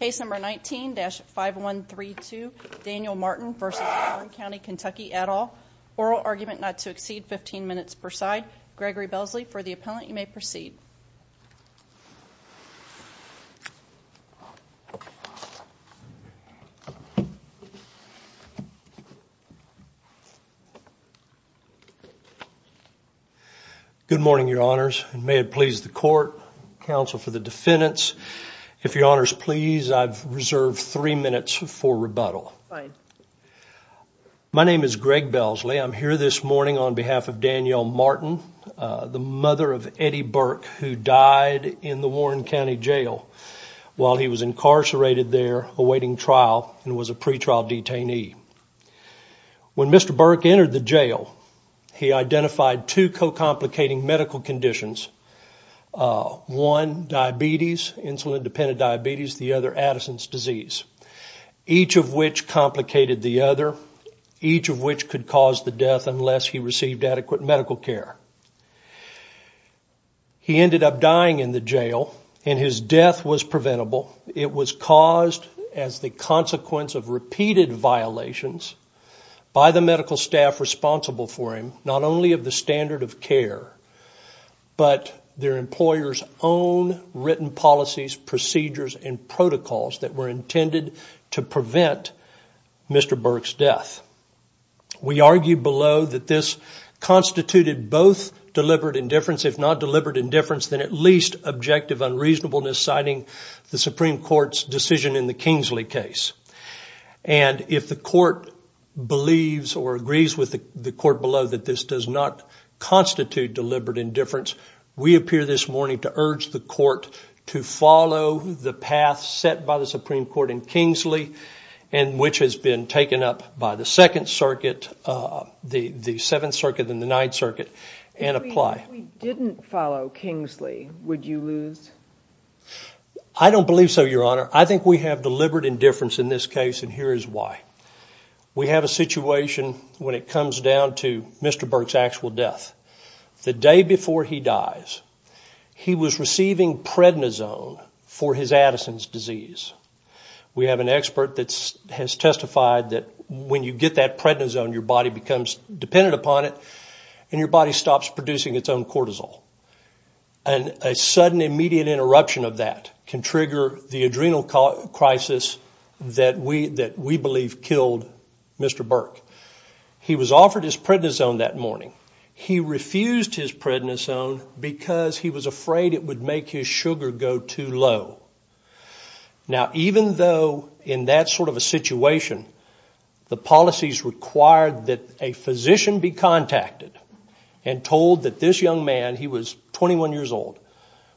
Case number 19-5132, Danyel Martin v. Warren County, Kentucky, et al. Oral argument not to exceed 15 minutes per side. Gregory Belsley for the appellant, you may proceed. Good morning, your honors. May it please the court, counsel for the defendants, if your honors please, I've reserved three minutes for rebuttal. My name is Greg Belsley. I'm here this morning on behalf of Danyel Martin, the mother of Eddie Burke who died in the Warren County jail while he was incarcerated there awaiting trial and was a pretrial detainee. When Mr. Burke entered the jail, he identified two co-complicating medical conditions, one diabetes, insulin-dependent diabetes, the other Addison's disease, each of which complicated the other, each of which could cause the death unless he received adequate medical care. He ended up dying in the jail and his death was preventable. It was caused as the consequence of repeated violations by the medical staff responsible for him, not only of the standard of care, but their employer's own written policies, procedures, and protocols that were intended to prevent Mr. Burke's death. We argue below that this constituted both deliberate indifference, if not deliberate indifference, then at least objective unreasonableness, citing the Supreme Court's decision in the Kingsley case. If the court believes or agrees with the court below that this does not constitute deliberate indifference, we appear this morning to urge the court to follow the path set by the Supreme Court in Kingsley, which has been taken up by the Second Circuit, the Seventh Circuit, and the Ninth Circuit, and apply. If we didn't follow Kingsley, would you lose? I don't believe so, Your Honor. I think we have deliberate indifference in this case, and here is why. We have a situation when it comes down to Mr. Burke's actual death. The day before he dies, he was receiving prednisone for his Addison's disease. We have an expert that has testified that when you get that prednisone, your body becomes dependent upon it, and your body stops producing its own cortisol. A sudden, immediate interruption of that can trigger the adrenal crisis that we believe killed Mr. Burke. He was offered his prednisone that morning. He refused his prednisone because he was afraid it would make his sugar go too low. Now, even though in that sort of a situation, the policies required that a physician be contacted and told that this young man, he was 21 years old,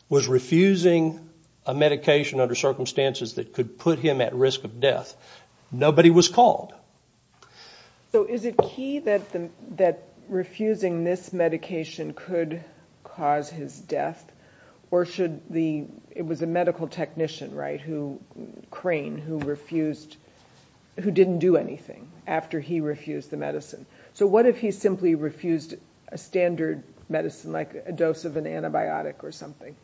was refusing a medication under circumstances that could put him at risk of death, nobody was called. So is it key that refusing this medication could cause his death, or should the, it was a medical technician, right, Crane, who refused, who didn't do anything after he refused the medicine. So what if he simply refused a standard medicine, like a dose of an antibiotic or something?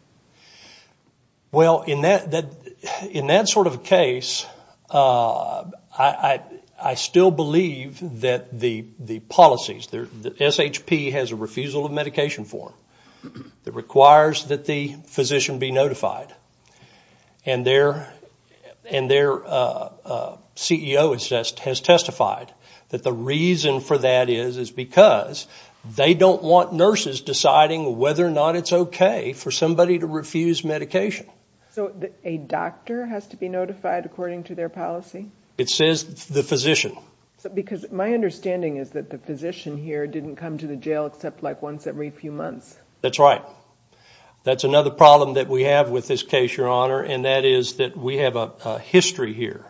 Well, in that sort of a case, I still believe that the policies, that SHP has a refusal of medication form that requires that the physician be notified. And their CEO has testified that the reason for that is because they don't want nurses deciding whether or not it's okay for somebody to refuse medication. So a doctor has to be notified according to their policy? It says the physician. Because my understanding is that the physician here didn't come to the jail except like once every few months. That's right. That's another problem that we have with this case, Your Honor, and that is that we have a history here.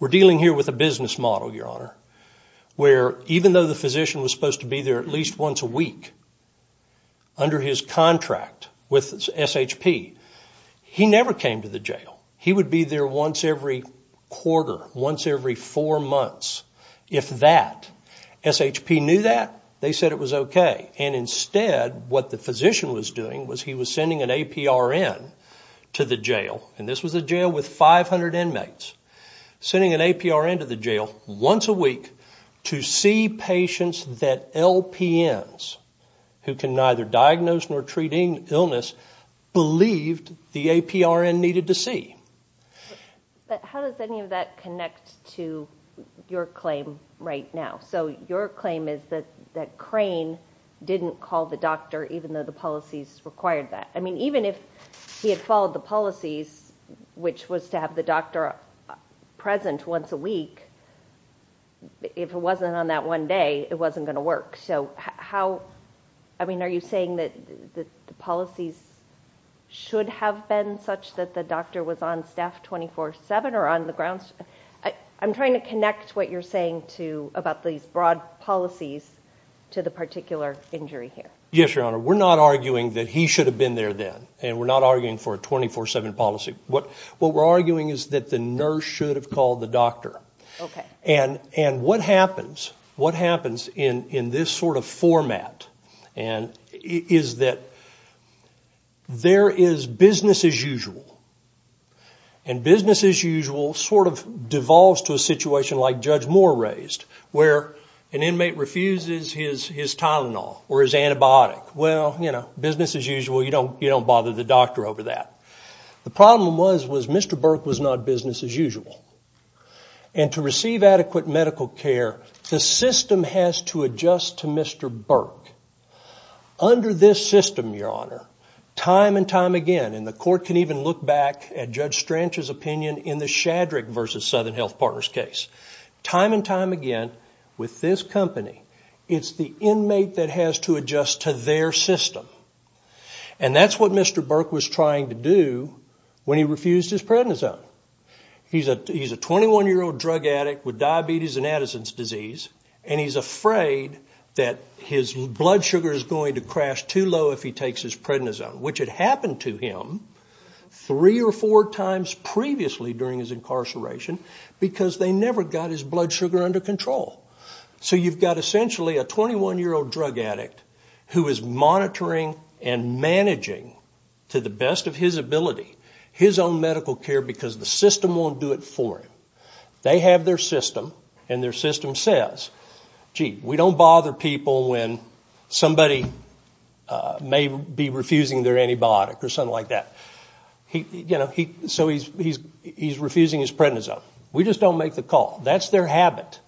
We're dealing here with a business model, Your Honor, where even though the physician was supposed to be there at least once a week under his contract with SHP, he never came to the jail. He would be there once every quarter, once every four months if that. SHP knew that. They said it was okay. And instead, what the physician was doing was he was sending an APRN to the jail. And this was a jail with 500 inmates, sending an APRN to the jail once a week to see patients that LPNs, who can neither diagnose nor treat illness, believed the APRN needed to see. But how does any of that connect to your claim right now? So your claim is that Crane didn't call the doctor even though the policies required that. I mean, even if he had followed the policies, which was to have the doctor present once a week, if it wasn't on that one day, it wasn't going to work. I mean, are you saying that the policies should have been such that the doctor was on staff 24-7 or on the grounds? I'm trying to connect what you're saying about these broad policies to the particular injury here. Yes, Your Honor. We're not arguing that he should have been there then, and we're not arguing for a 24-7 policy. What we're arguing is that the nurse should have called the doctor. Okay. And what happens in this sort of format is that there is business as usual. And business as usual sort of devolves to a situation like Judge Moore raised, where an inmate refuses his Tylenol or his antibiotic. Well, you know, business as usual, you don't bother the doctor over that. The problem was Mr. Burke was not business as usual. And to receive adequate medical care, the system has to adjust to Mr. Burke. Under this system, Your Honor, time and time again, and the court can even look back at Judge Stranch's opinion in the Shadrick v. Southern Health Partners case, time and time again, with this company, it's the inmate that has to adjust to their system. And that's what Mr. Burke was trying to do when he refused his prednisone. He's a 21-year-old drug addict with diabetes and Addison's disease, and he's afraid that his blood sugar is going to crash too low if he takes his prednisone, which had happened to him three or four times previously during his incarceration because they never got his blood sugar under control. So you've got essentially a 21-year-old drug addict who is monitoring and managing to the best of his ability his own medical care because the system won't do it for him. They have their system, and their system says, gee, we don't bother people when somebody may be refusing their antibiotic or something like that. So he's refusing his prednisone. We just don't make the call. That's their habit,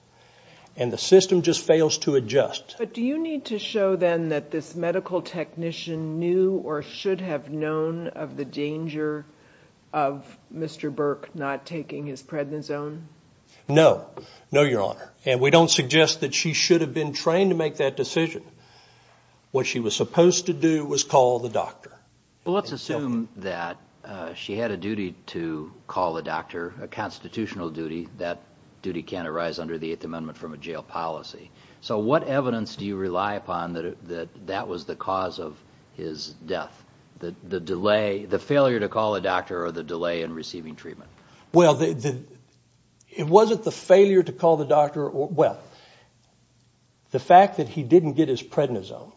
and the system just fails to adjust. But do you need to show then that this medical technician knew or should have known of the danger of Mr. Burke not taking his prednisone? No. No, Your Honor. And we don't suggest that she should have been trained to make that decision. What she was supposed to do was call the doctor. Well, let's assume that she had a duty to call the doctor, a constitutional duty. That duty can't arise under the Eighth Amendment from a jail policy. So what evidence do you rely upon that that was the cause of his death, the delay, the failure to call the doctor or the delay in receiving treatment? Well, it wasn't the failure to call the doctor. Well, the fact that he didn't get his prednisone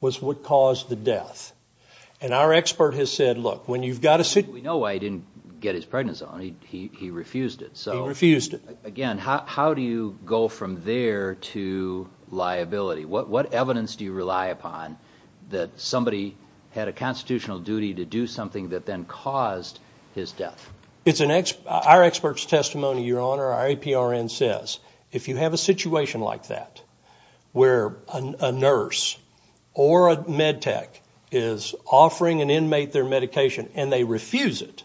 was what caused the death. And our expert has said, look, when you've got a sick... We know why he didn't get his prednisone. He refused it. He refused it. Again, how do you go from there to liability? What evidence do you rely upon that somebody had a constitutional duty to do something that then caused his death? Our expert's testimony, Your Honor, our APRN, says if you have a situation like that where a nurse or a med tech is offering an inmate their medication and they refuse it,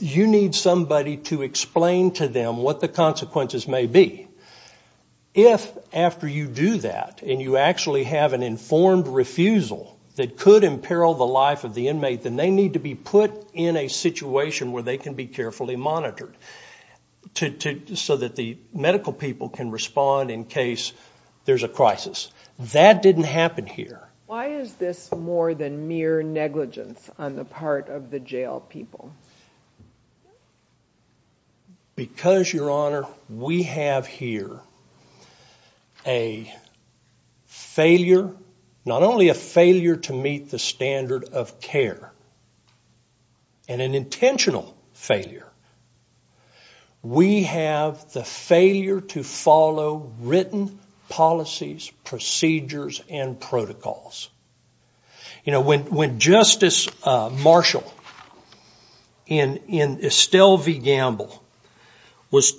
you need somebody to explain to them what the consequences may be. If after you do that and you actually have an informed refusal that could imperil the life of the inmate, then they need to be put in a situation where they can be carefully monitored so that the medical people can respond in case there's a crisis. That didn't happen here. Why is this more than mere negligence on the part of the jail people? Because, Your Honor, we have here a failure, not only a failure to meet the standard of care, and an intentional failure. We have the failure to follow written policies, procedures, and protocols. When Justice Marshall in Estelle v. Gamble was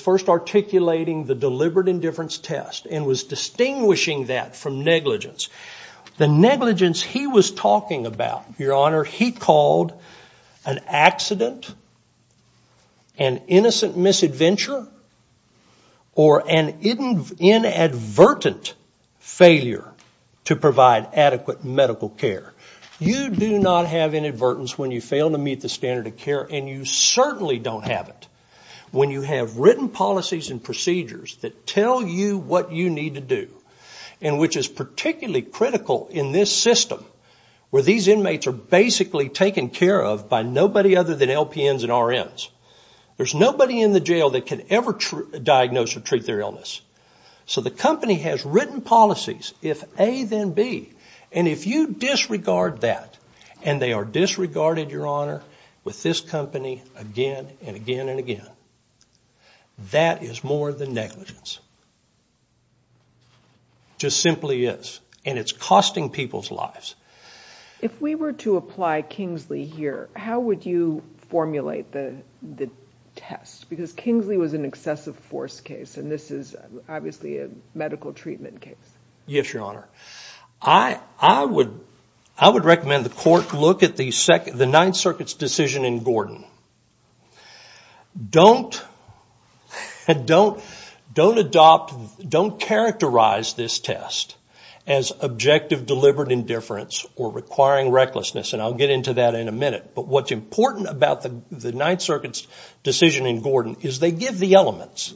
first articulating the deliberate indifference test and was distinguishing that from negligence, the negligence he was talking about, Your Honor, he called an accident, an innocent misadventure, or an inadvertent failure to provide adequate medical care. You do not have inadvertence when you fail to meet the standard of care, and you certainly don't have it when you have written policies and procedures that tell you what you need to do and which is particularly critical in this system where these inmates are basically taken care of by nobody other than LPNs and RNs. There's nobody in the jail that can ever diagnose or treat their illness. So the company has written policies, if A, then B, and if you disregard that, and they are disregarded, Your Honor, with this company again and again and again, that is more than negligence. It just simply is, and it's costing people's lives. If we were to apply Kingsley here, how would you formulate the test? Because Kingsley was an excessive force case, and this is obviously a medical treatment case. Yes, Your Honor. I would recommend the court look at the Ninth Circuit's decision in Gordon. Don't characterize this test as objective deliberate indifference or requiring recklessness, and I'll get into that in a minute. But what's important about the Ninth Circuit's decision in Gordon is they give the elements,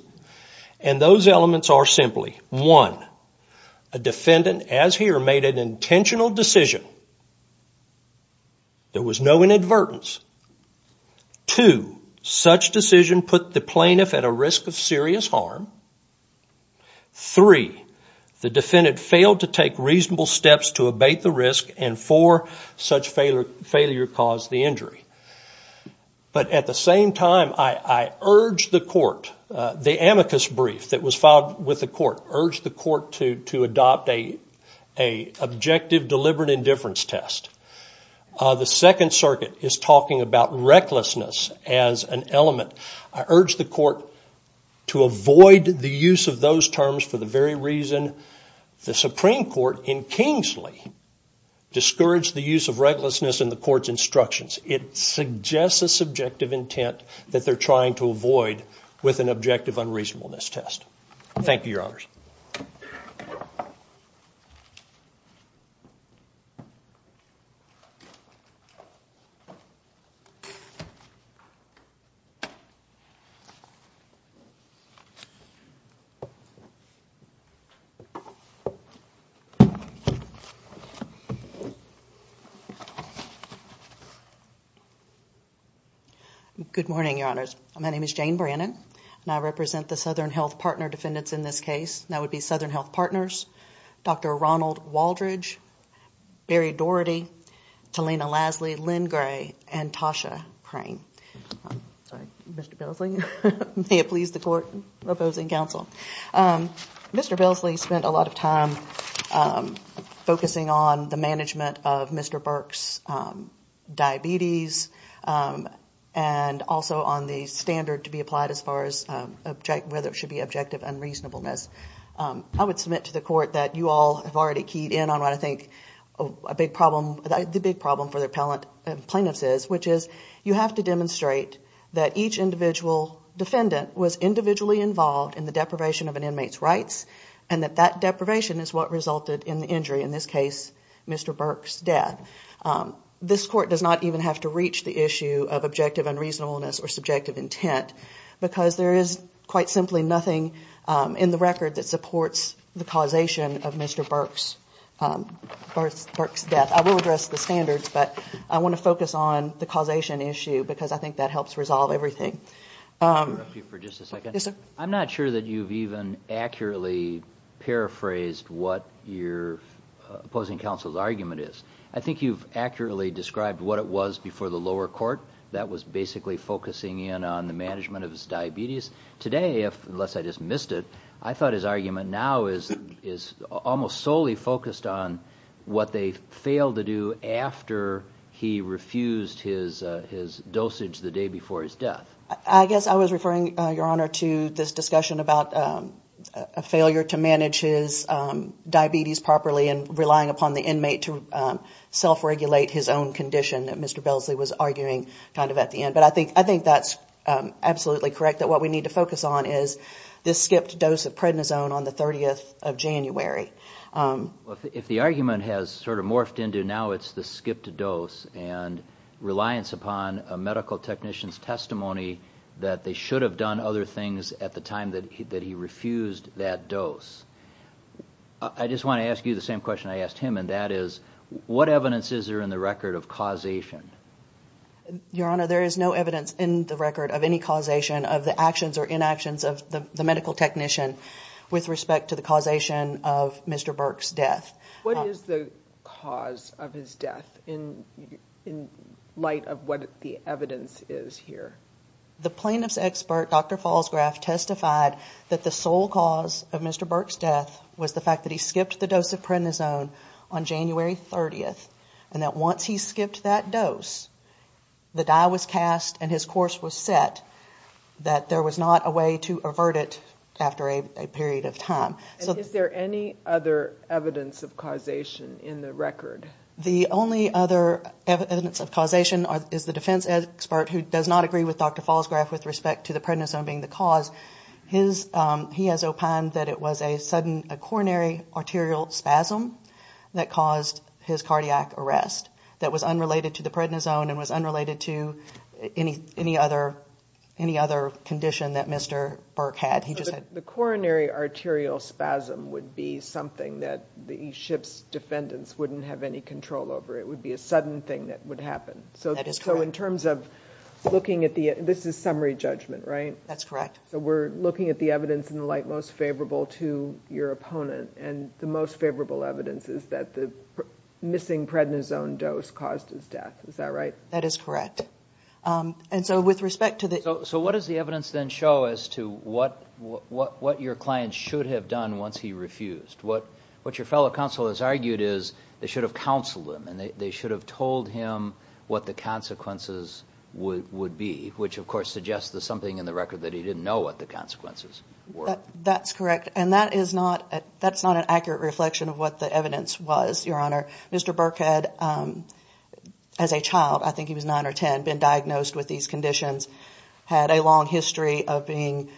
and those elements are simply, one, a defendant, as here, made an intentional decision. There was no inadvertence. Two, such decision put the plaintiff at a risk of serious harm. Three, the defendant failed to take reasonable steps to abate the risk, and four, such failure caused the injury. But at the same time, I urge the court, the amicus brief that was filed with the court, urge the court to adopt an objective deliberate indifference test. The Second Circuit is talking about recklessness as an element. I urge the court to avoid the use of those terms for the very reason the Supreme Court in Kingsley discouraged the use of recklessness in the court's instructions. It suggests a subjective intent that they're trying to avoid with an objective unreasonableness test. Thank you, Your Honors. Good morning, Your Honors. My name is Jane Brannon, and I represent the Southern Health Partner Defendants in this case, and that would be Southern Health Partners, Dr. Ronald Waldridge, Barry Doherty, Talena Lasley, Lynn Gray, and Tasha Crane. Sorry, Mr. Belsley. May it please the court opposing counsel. Mr. Belsley spent a lot of time focusing on the management of Mr. Burke's diabetes and also on the standard to be applied as far as whether it should be objective unreasonableness. I would submit to the court that you all have already keyed in on what I think a big problem, the big problem for the plaintiffs is, which is you have to demonstrate that each individual defendant was individually involved in the deprivation of an inmate's rights and that that deprivation is what resulted in the injury, in this case, Mr. Burke's death. This court does not even have to reach the issue of objective unreasonableness or subjective intent because there is quite simply nothing in the record that supports the causation of Mr. Burke's death. I will address the standards, but I want to focus on the causation issue because I think that helps resolve everything. Let me interrupt you for just a second. Yes, sir. I'm not sure that you've even accurately paraphrased what your opposing counsel's argument is. I think you've accurately described what it was before the lower court that was basically focusing in on the management of his diabetes. Today, unless I just missed it, I thought his argument now is almost solely focused on what they failed to do after he refused his dosage the day before his death. I guess I was referring, Your Honor, to this discussion about a failure to manage his diabetes properly and relying upon the inmate to self-regulate his own condition that Mr. Belsley was arguing kind of at the end. But I think that's absolutely correct that what we need to focus on is this skipped dose of prednisone on the 30th of January. If the argument has sort of morphed into now it's the skipped dose and reliance upon a medical technician's testimony that they should have done other things at the time that he refused that dose, I just want to ask you the same question I asked him, and that is what evidence is there in the record of causation? Your Honor, there is no evidence in the record of any causation of the actions or inactions of the medical technician with respect to the causation of Mr. Burke's death. What is the cause of his death in light of what the evidence is here? The plaintiff's expert, Dr. Falsgraf, testified that the sole cause of Mr. Burke's death was the fact that he skipped the dose of prednisone on January 30th and that once he skipped that dose, the die was cast and his course was set, that there was not a way to avert it after a period of time. Is there any other evidence of causation in the record? The only other evidence of causation is the defense expert, who does not agree with Dr. Falsgraf with respect to the prednisone being the cause. He has opined that it was a sudden coronary arterial spasm that caused his cardiac arrest that was unrelated to the prednisone and was unrelated to any other condition that Mr. Burke had. The coronary arterial spasm would be something that the ship's defendants wouldn't have any control over. It would be a sudden thing that would happen. This is summary judgment, right? That's correct. We're looking at the evidence in the light most favorable to your opponent and the most favorable evidence is that the missing prednisone dose caused his death. Is that right? That is correct. What does the evidence then show as to what your client should have done once he refused? What your fellow counsel has argued is they should have counseled him and they should have told him what the consequences would be, which of course suggests there's something in the record that he didn't know what the consequences were. That's correct. That's not an accurate reflection of what the evidence was, Your Honor. Mr. Burke had, as a child, I think he was 9 or 10, been diagnosed with these conditions, had a long history of being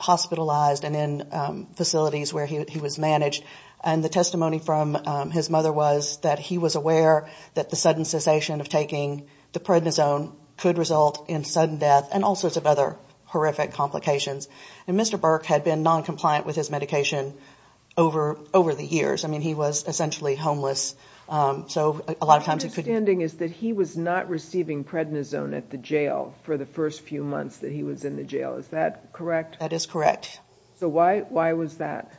hospitalized and in facilities where he was managed. The testimony from his mother was that he was aware that the sudden cessation of taking the prednisone could result in sudden death and all sorts of other horrific complications. Mr. Burke had been noncompliant with his medication over the years. I mean, he was essentially homeless, so a lot of times it could be... My understanding is that he was not receiving prednisone at the jail for the first few months that he was in the jail. Is that correct? That is correct. So why was that?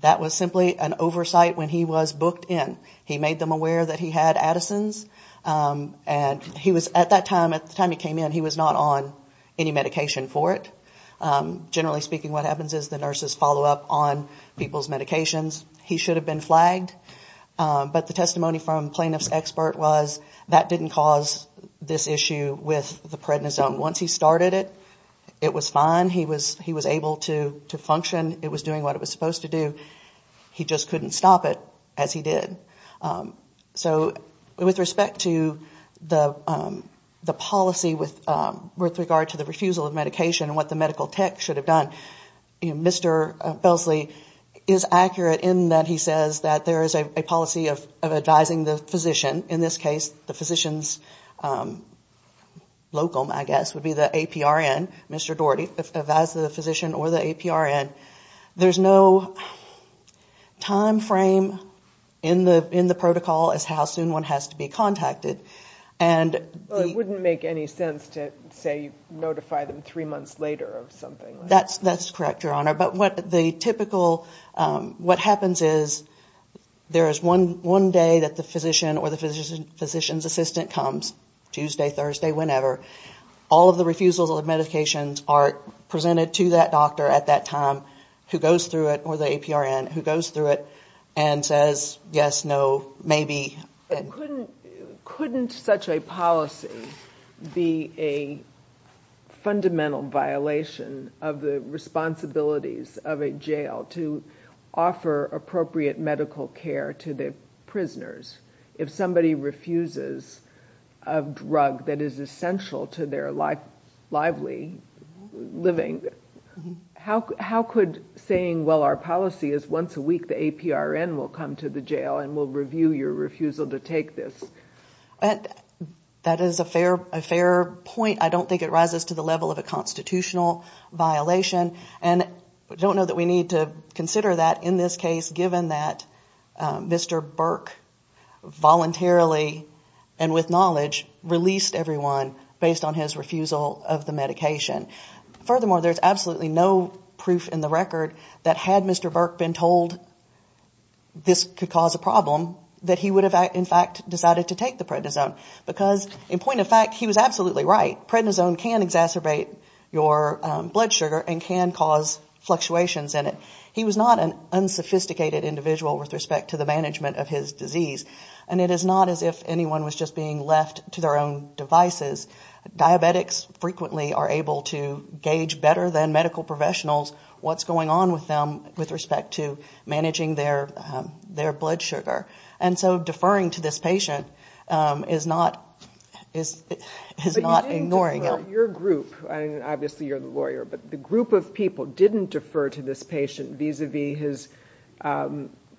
That was simply an oversight when he was booked in. He made them aware that he had Addison's and he was, at that time, at the time he came in, he was not on any medication for it. Generally speaking, what happens is the nurses follow up on people's medications. He should have been flagged. But the testimony from the plaintiff's expert was that didn't cause this issue with the prednisone. Once he started it, it was fine. He was able to function. It was doing what it was supposed to do. He just couldn't stop it, as he did. and what the medical tech should have done. Mr. Belsley is accurate in that he says that there is a policy of advising the physician. In this case, the physician's locum, I guess, would be the APRN. Mr. Daugherty advises the physician or the APRN. There's no time frame in the protocol as how soon one has to be contacted. It wouldn't make any sense to notify them three months later of something. That's correct, Your Honor. What happens is there is one day that the physician or the physician's assistant comes, Tuesday, Thursday, whenever. All of the refusals of medications are presented to that doctor at that time who goes through it, or the APRN, who goes through it and says, yes, no, maybe. Couldn't such a policy be a fundamental violation of the responsibilities of a jail to offer appropriate medical care to the prisoners? If somebody refuses a drug that is essential to their lively living, how could saying, well, our policy is once a week the APRN will come to the jail and will review your refusal to take this? That is a fair point. I don't think it rises to the level of a constitutional violation. I don't know that we need to consider that in this case, given that Mr. Burke voluntarily and with knowledge released everyone based on his refusal of the medication. Furthermore, there is absolutely no proof in the record that had Mr. Burke been told this could cause a problem, that he would have, in fact, decided to take the prednisone. Because, in point of fact, he was absolutely right. Prednisone can exacerbate your blood sugar and can cause fluctuations in it. He was not an unsophisticated individual with respect to the management of his disease. And it is not as if anyone was just being left to their own devices. Diabetics frequently are able to gauge better than medical professionals what's going on with them with respect to managing their blood sugar. And so deferring to this patient is not ignoring it. But you didn't defer. Your group, and obviously you're the lawyer, but the group of people didn't defer to this patient vis-a-vis his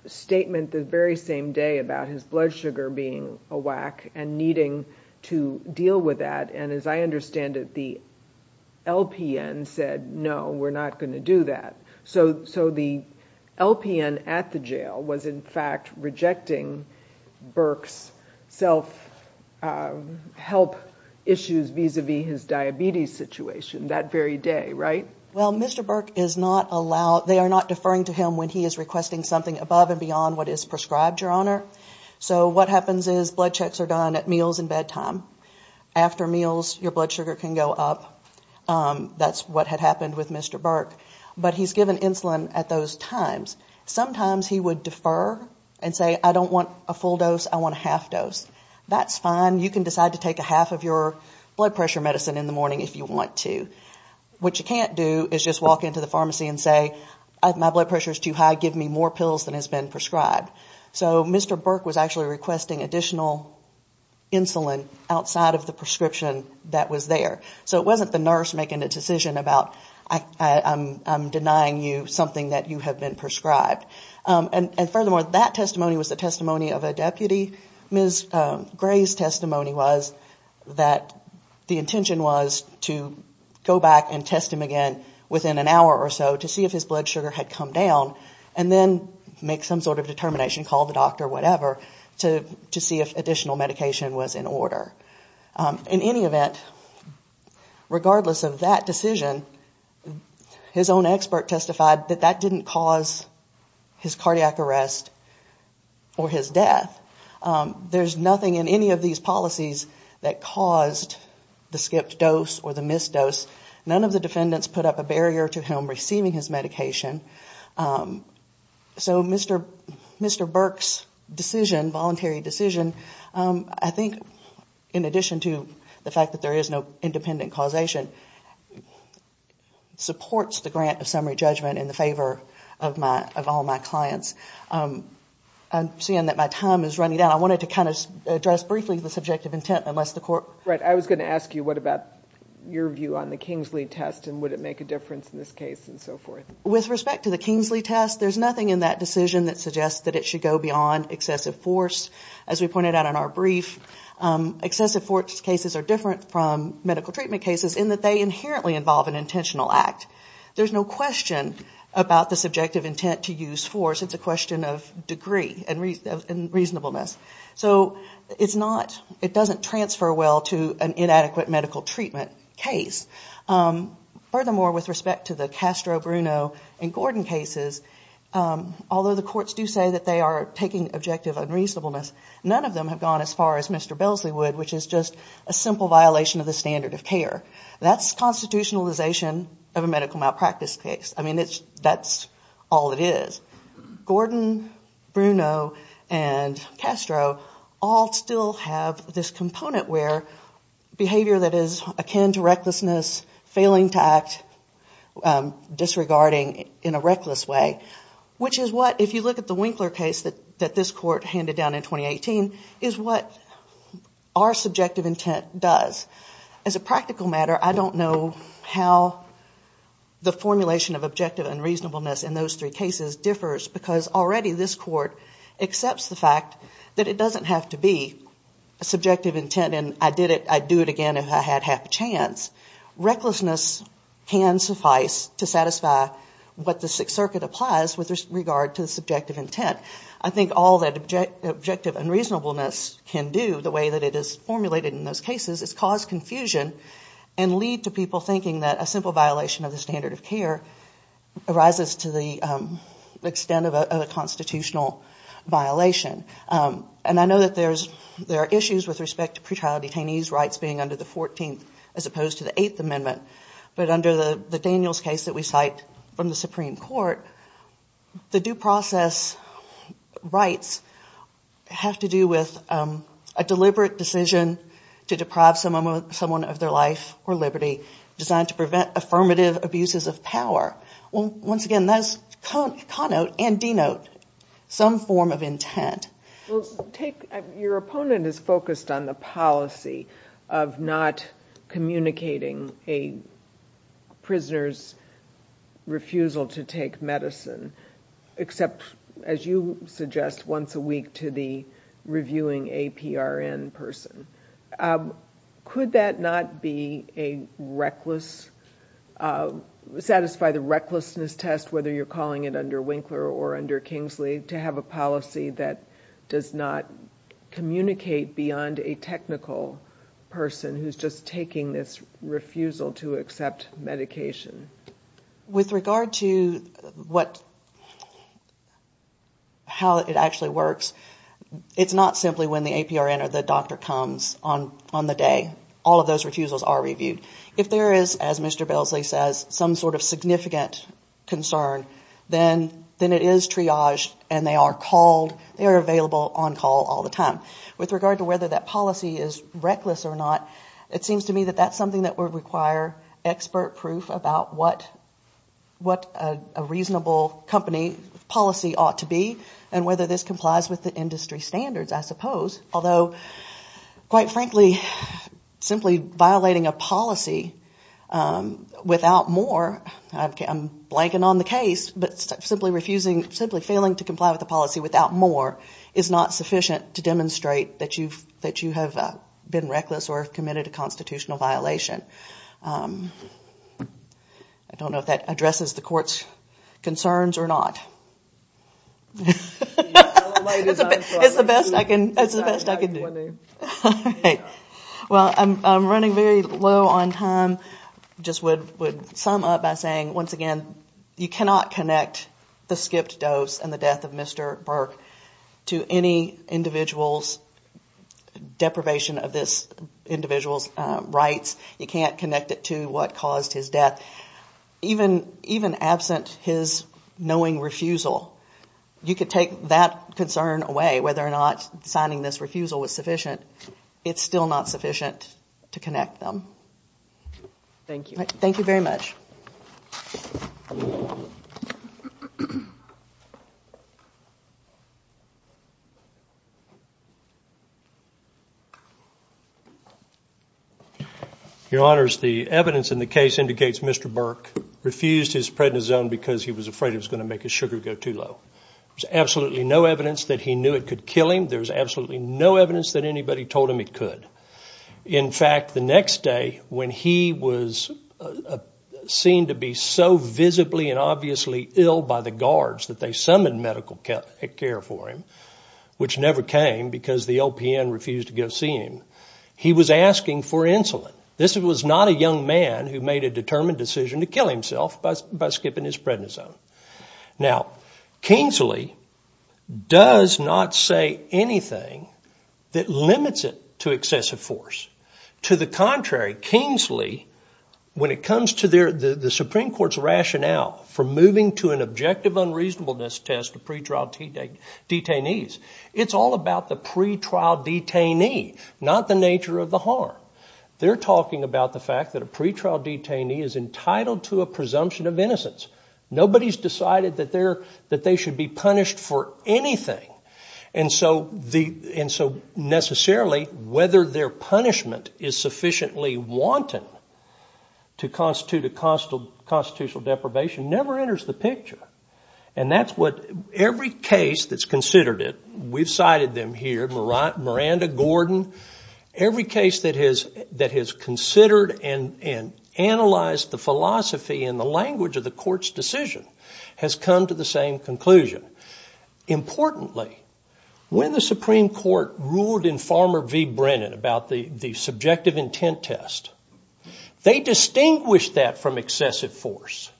statement the very same day about his blood sugar being a whack and needing to deal with that. And as I understand it, the LPN said, no, we're not going to do that. So the LPN at the jail was, in fact, rejecting Burke's self-help issues vis-a-vis his diabetes situation that very day, right? Well, Mr. Burke is not allowed, they are not deferring to him when he is requesting something above and beyond what is prescribed, Your Honor. So what happens is blood checks are done at meals and bedtime. After meals, your blood sugar can go up. That's what had happened with Mr. Burke. But he's given insulin at those times. Sometimes he would defer and say, I don't want a full dose, I want a half dose. That's fine. You can decide to take a half of your blood pressure medicine in the morning if you want to. What you can't do is just walk into the pharmacy and say, my blood pressure is too high, give me more pills than has been prescribed. So Mr. Burke was actually requesting additional insulin outside of the prescription that was there. So it wasn't the nurse making a decision about, I'm denying you something that you have been prescribed. And furthermore, that testimony was the testimony of a deputy. Ms. Gray's testimony was that the intention was to go back and test him again within an hour or so to see if his blood sugar had come down and then make some sort of determination, call the doctor, whatever, to see if additional medication was in order. In any event, regardless of that decision, his own expert testified that that didn't cause his cardiac arrest or his death. There's nothing in any of these policies that caused the skipped dose or the missed dose. None of the defendants put up a barrier to him receiving his medication. So Mr. Burke's decision, voluntary decision, I think in addition to the fact that there is no independent causation, supports the grant of summary judgment in the favor of all my clients. I'm seeing that my time is running out. I wanted to kind of address briefly the subjective intent unless the court... Right. I was going to ask you what about your view on the Kingsley test and would it make a difference in this case and so forth. With respect to the Kingsley test, there's nothing in that decision that suggests that it should go beyond excessive force. As we pointed out in our brief, excessive force cases are different from medical treatment cases in that they inherently involve an intentional act. There's no question about the subjective intent to use force. It's a question of degree and reasonableness. So it's not, it doesn't transfer well to an inadequate medical treatment case. Furthermore, with respect to the Castro, Bruno and Gordon cases, although the courts do say that they are taking objective unreasonableness, none of them have gone as far as Mr. Belsley would, which is just a simple violation of the standard of care. That's constitutionalization of a medical malpractice case. I mean, that's all it is. Gordon, Bruno and Castro all still have this component where behavior that is akin to recklessness, failing to act, disregarding in a reckless way, which is what, if you look at the Winkler case that this court handed down in 2018, is what our subjective intent does. As a practical matter, I don't know how the formulation of objective unreasonableness in those three cases differs, because already this court accepts the fact that it doesn't have to be a subjective intent and I did it, I'd do it again if I had half a chance. Recklessness can suffice to satisfy what the Sixth Circuit applies with regard to the subjective intent. I think all that objective unreasonableness can do, the way that it is formulated in those cases, is cause confusion and lead to people thinking that a simple violation of the standard of care arises to the extent of a constitutional violation. And I know that there are issues with respect to pretrial detainees' rights being under the 14th as opposed to the 8th Amendment, but under the Daniels case that we cite from the Supreme Court, the due process rights have to do with a deliberate decision to deprive someone of their life or liberty designed to prevent affirmative abuses of power. Once again, that is connote and denote some form of intent. Your opponent is focused on the policy of not communicating a prisoner's refusal to take medicine, except, as you suggest, once a week to the reviewing APRN person. Could that not be a reckless, satisfy the recklessness test, whether you're calling it under Winkler or under Kingsley, to have a policy that does not communicate beyond a technical person who's just taking this refusal to accept medication? With regard to how it actually works, it's not simply when the APRN or the doctor comes on the day. All of those refusals are reviewed. If there is, as Mr. Balesley says, some sort of significant concern, then it is triaged and they are available on call all the time. With regard to whether that policy is reckless or not, it seems to me that that's something that would require expert proof about what a reasonable company policy ought to be and whether this complies with the industry standards, I suppose. Although, quite frankly, simply violating a policy without more, I'm blanking on the case, but simply failing to comply with a policy without more is not sufficient to demonstrate that you have been reckless or have committed a constitutional violation. I don't know if that addresses the court's concerns or not. It's the best I can do. Well, I'm running very low on time. I just would sum up by saying, once again, you cannot connect the skipped dose and the death of Mr. Burke to any individual's deprivation of this individual's rights. You can't connect it to what caused his death. Even absent his knowing refusal, you could take that concern away, whether or not signing this refusal was sufficient. It's still not sufficient to connect them. Thank you. Thank you very much. Your Honors, the evidence in the case indicates Mr. Burke refused his prednisone because he was afraid it was going to make his sugar go too low. There's absolutely no evidence that he knew it could kill him. There's absolutely no evidence that anybody told him it could. In fact, the next day when he was seen to be so visibly and obviously ill by the guards that they summoned medical care for him, which never came because the LPN refused to go see him, he was asking for insulin. This was not a young man who made a determined decision to kill himself by skipping his prednisone. Now, Kingsley does not say anything that limits it to excessive force. To the contrary, Kingsley, when it comes to the Supreme Court's rationale for moving to an objective unreasonableness test of pre-trial detainees, it's all about the pre-trial detainee, not the nature of the harm. They're talking about the fact that a pre-trial detainee is entitled to a presumption of innocence. Nobody's decided that they should be punished for anything. And so necessarily whether their punishment is sufficiently wanton to constitute a constitutional deprivation never enters the picture. And that's what every case that's considered it, we've cited them here, Miranda, Gordon, every case that has considered and analyzed the philosophy and the language of the court's decision has come to the same conclusion. Importantly, when the Supreme Court ruled in Farmer v. Brennan about the subjective intent test, they distinguished that from excessive force.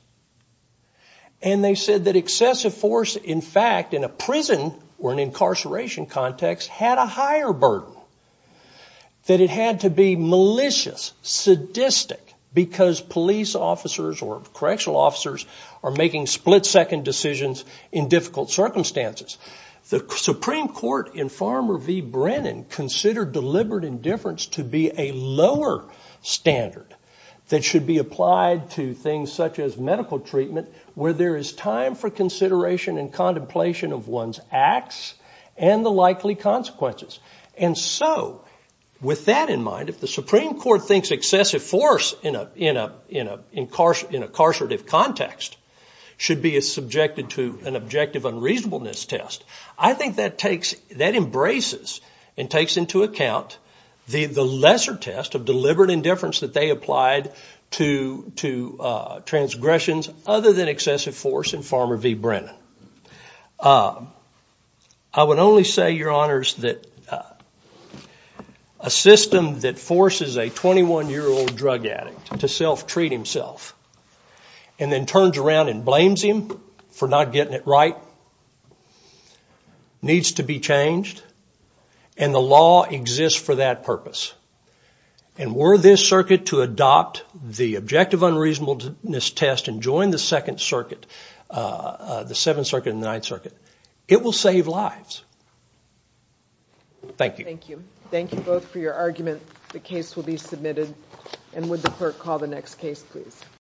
And they said that excessive force, in fact, in a prison or an incarceration context had a higher burden, that it had to be malicious, sadistic, because police officers or correctional officers are making split-second decisions in difficult circumstances. The Supreme Court in Farmer v. Brennan considered deliberate indifference to be a lower standard that should be applied to things such as medical treatment where there is time for consideration and contemplation of one's acts and the likely consequences. And so with that in mind, if the Supreme Court thinks excessive force in a incarcerative context should be subjected to an objective unreasonableness test, I think that embraces and takes into account the lesser test of deliberate indifference that they applied to transgressions other than excessive force in Farmer v. Brennan. I would only say, Your Honors, that a system that forces a 21-year-old drug addict to self-treat himself and then turns around and blames him for not getting it right needs to be changed, and the law exists for that purpose. And were this circuit to adopt the objective unreasonableness test and join the Second Circuit, the Seventh Circuit and the Ninth Circuit, it will save lives. Thank you. Thank you. Thank you both for your argument. The case will be submitted. And would the clerk call the next case, please.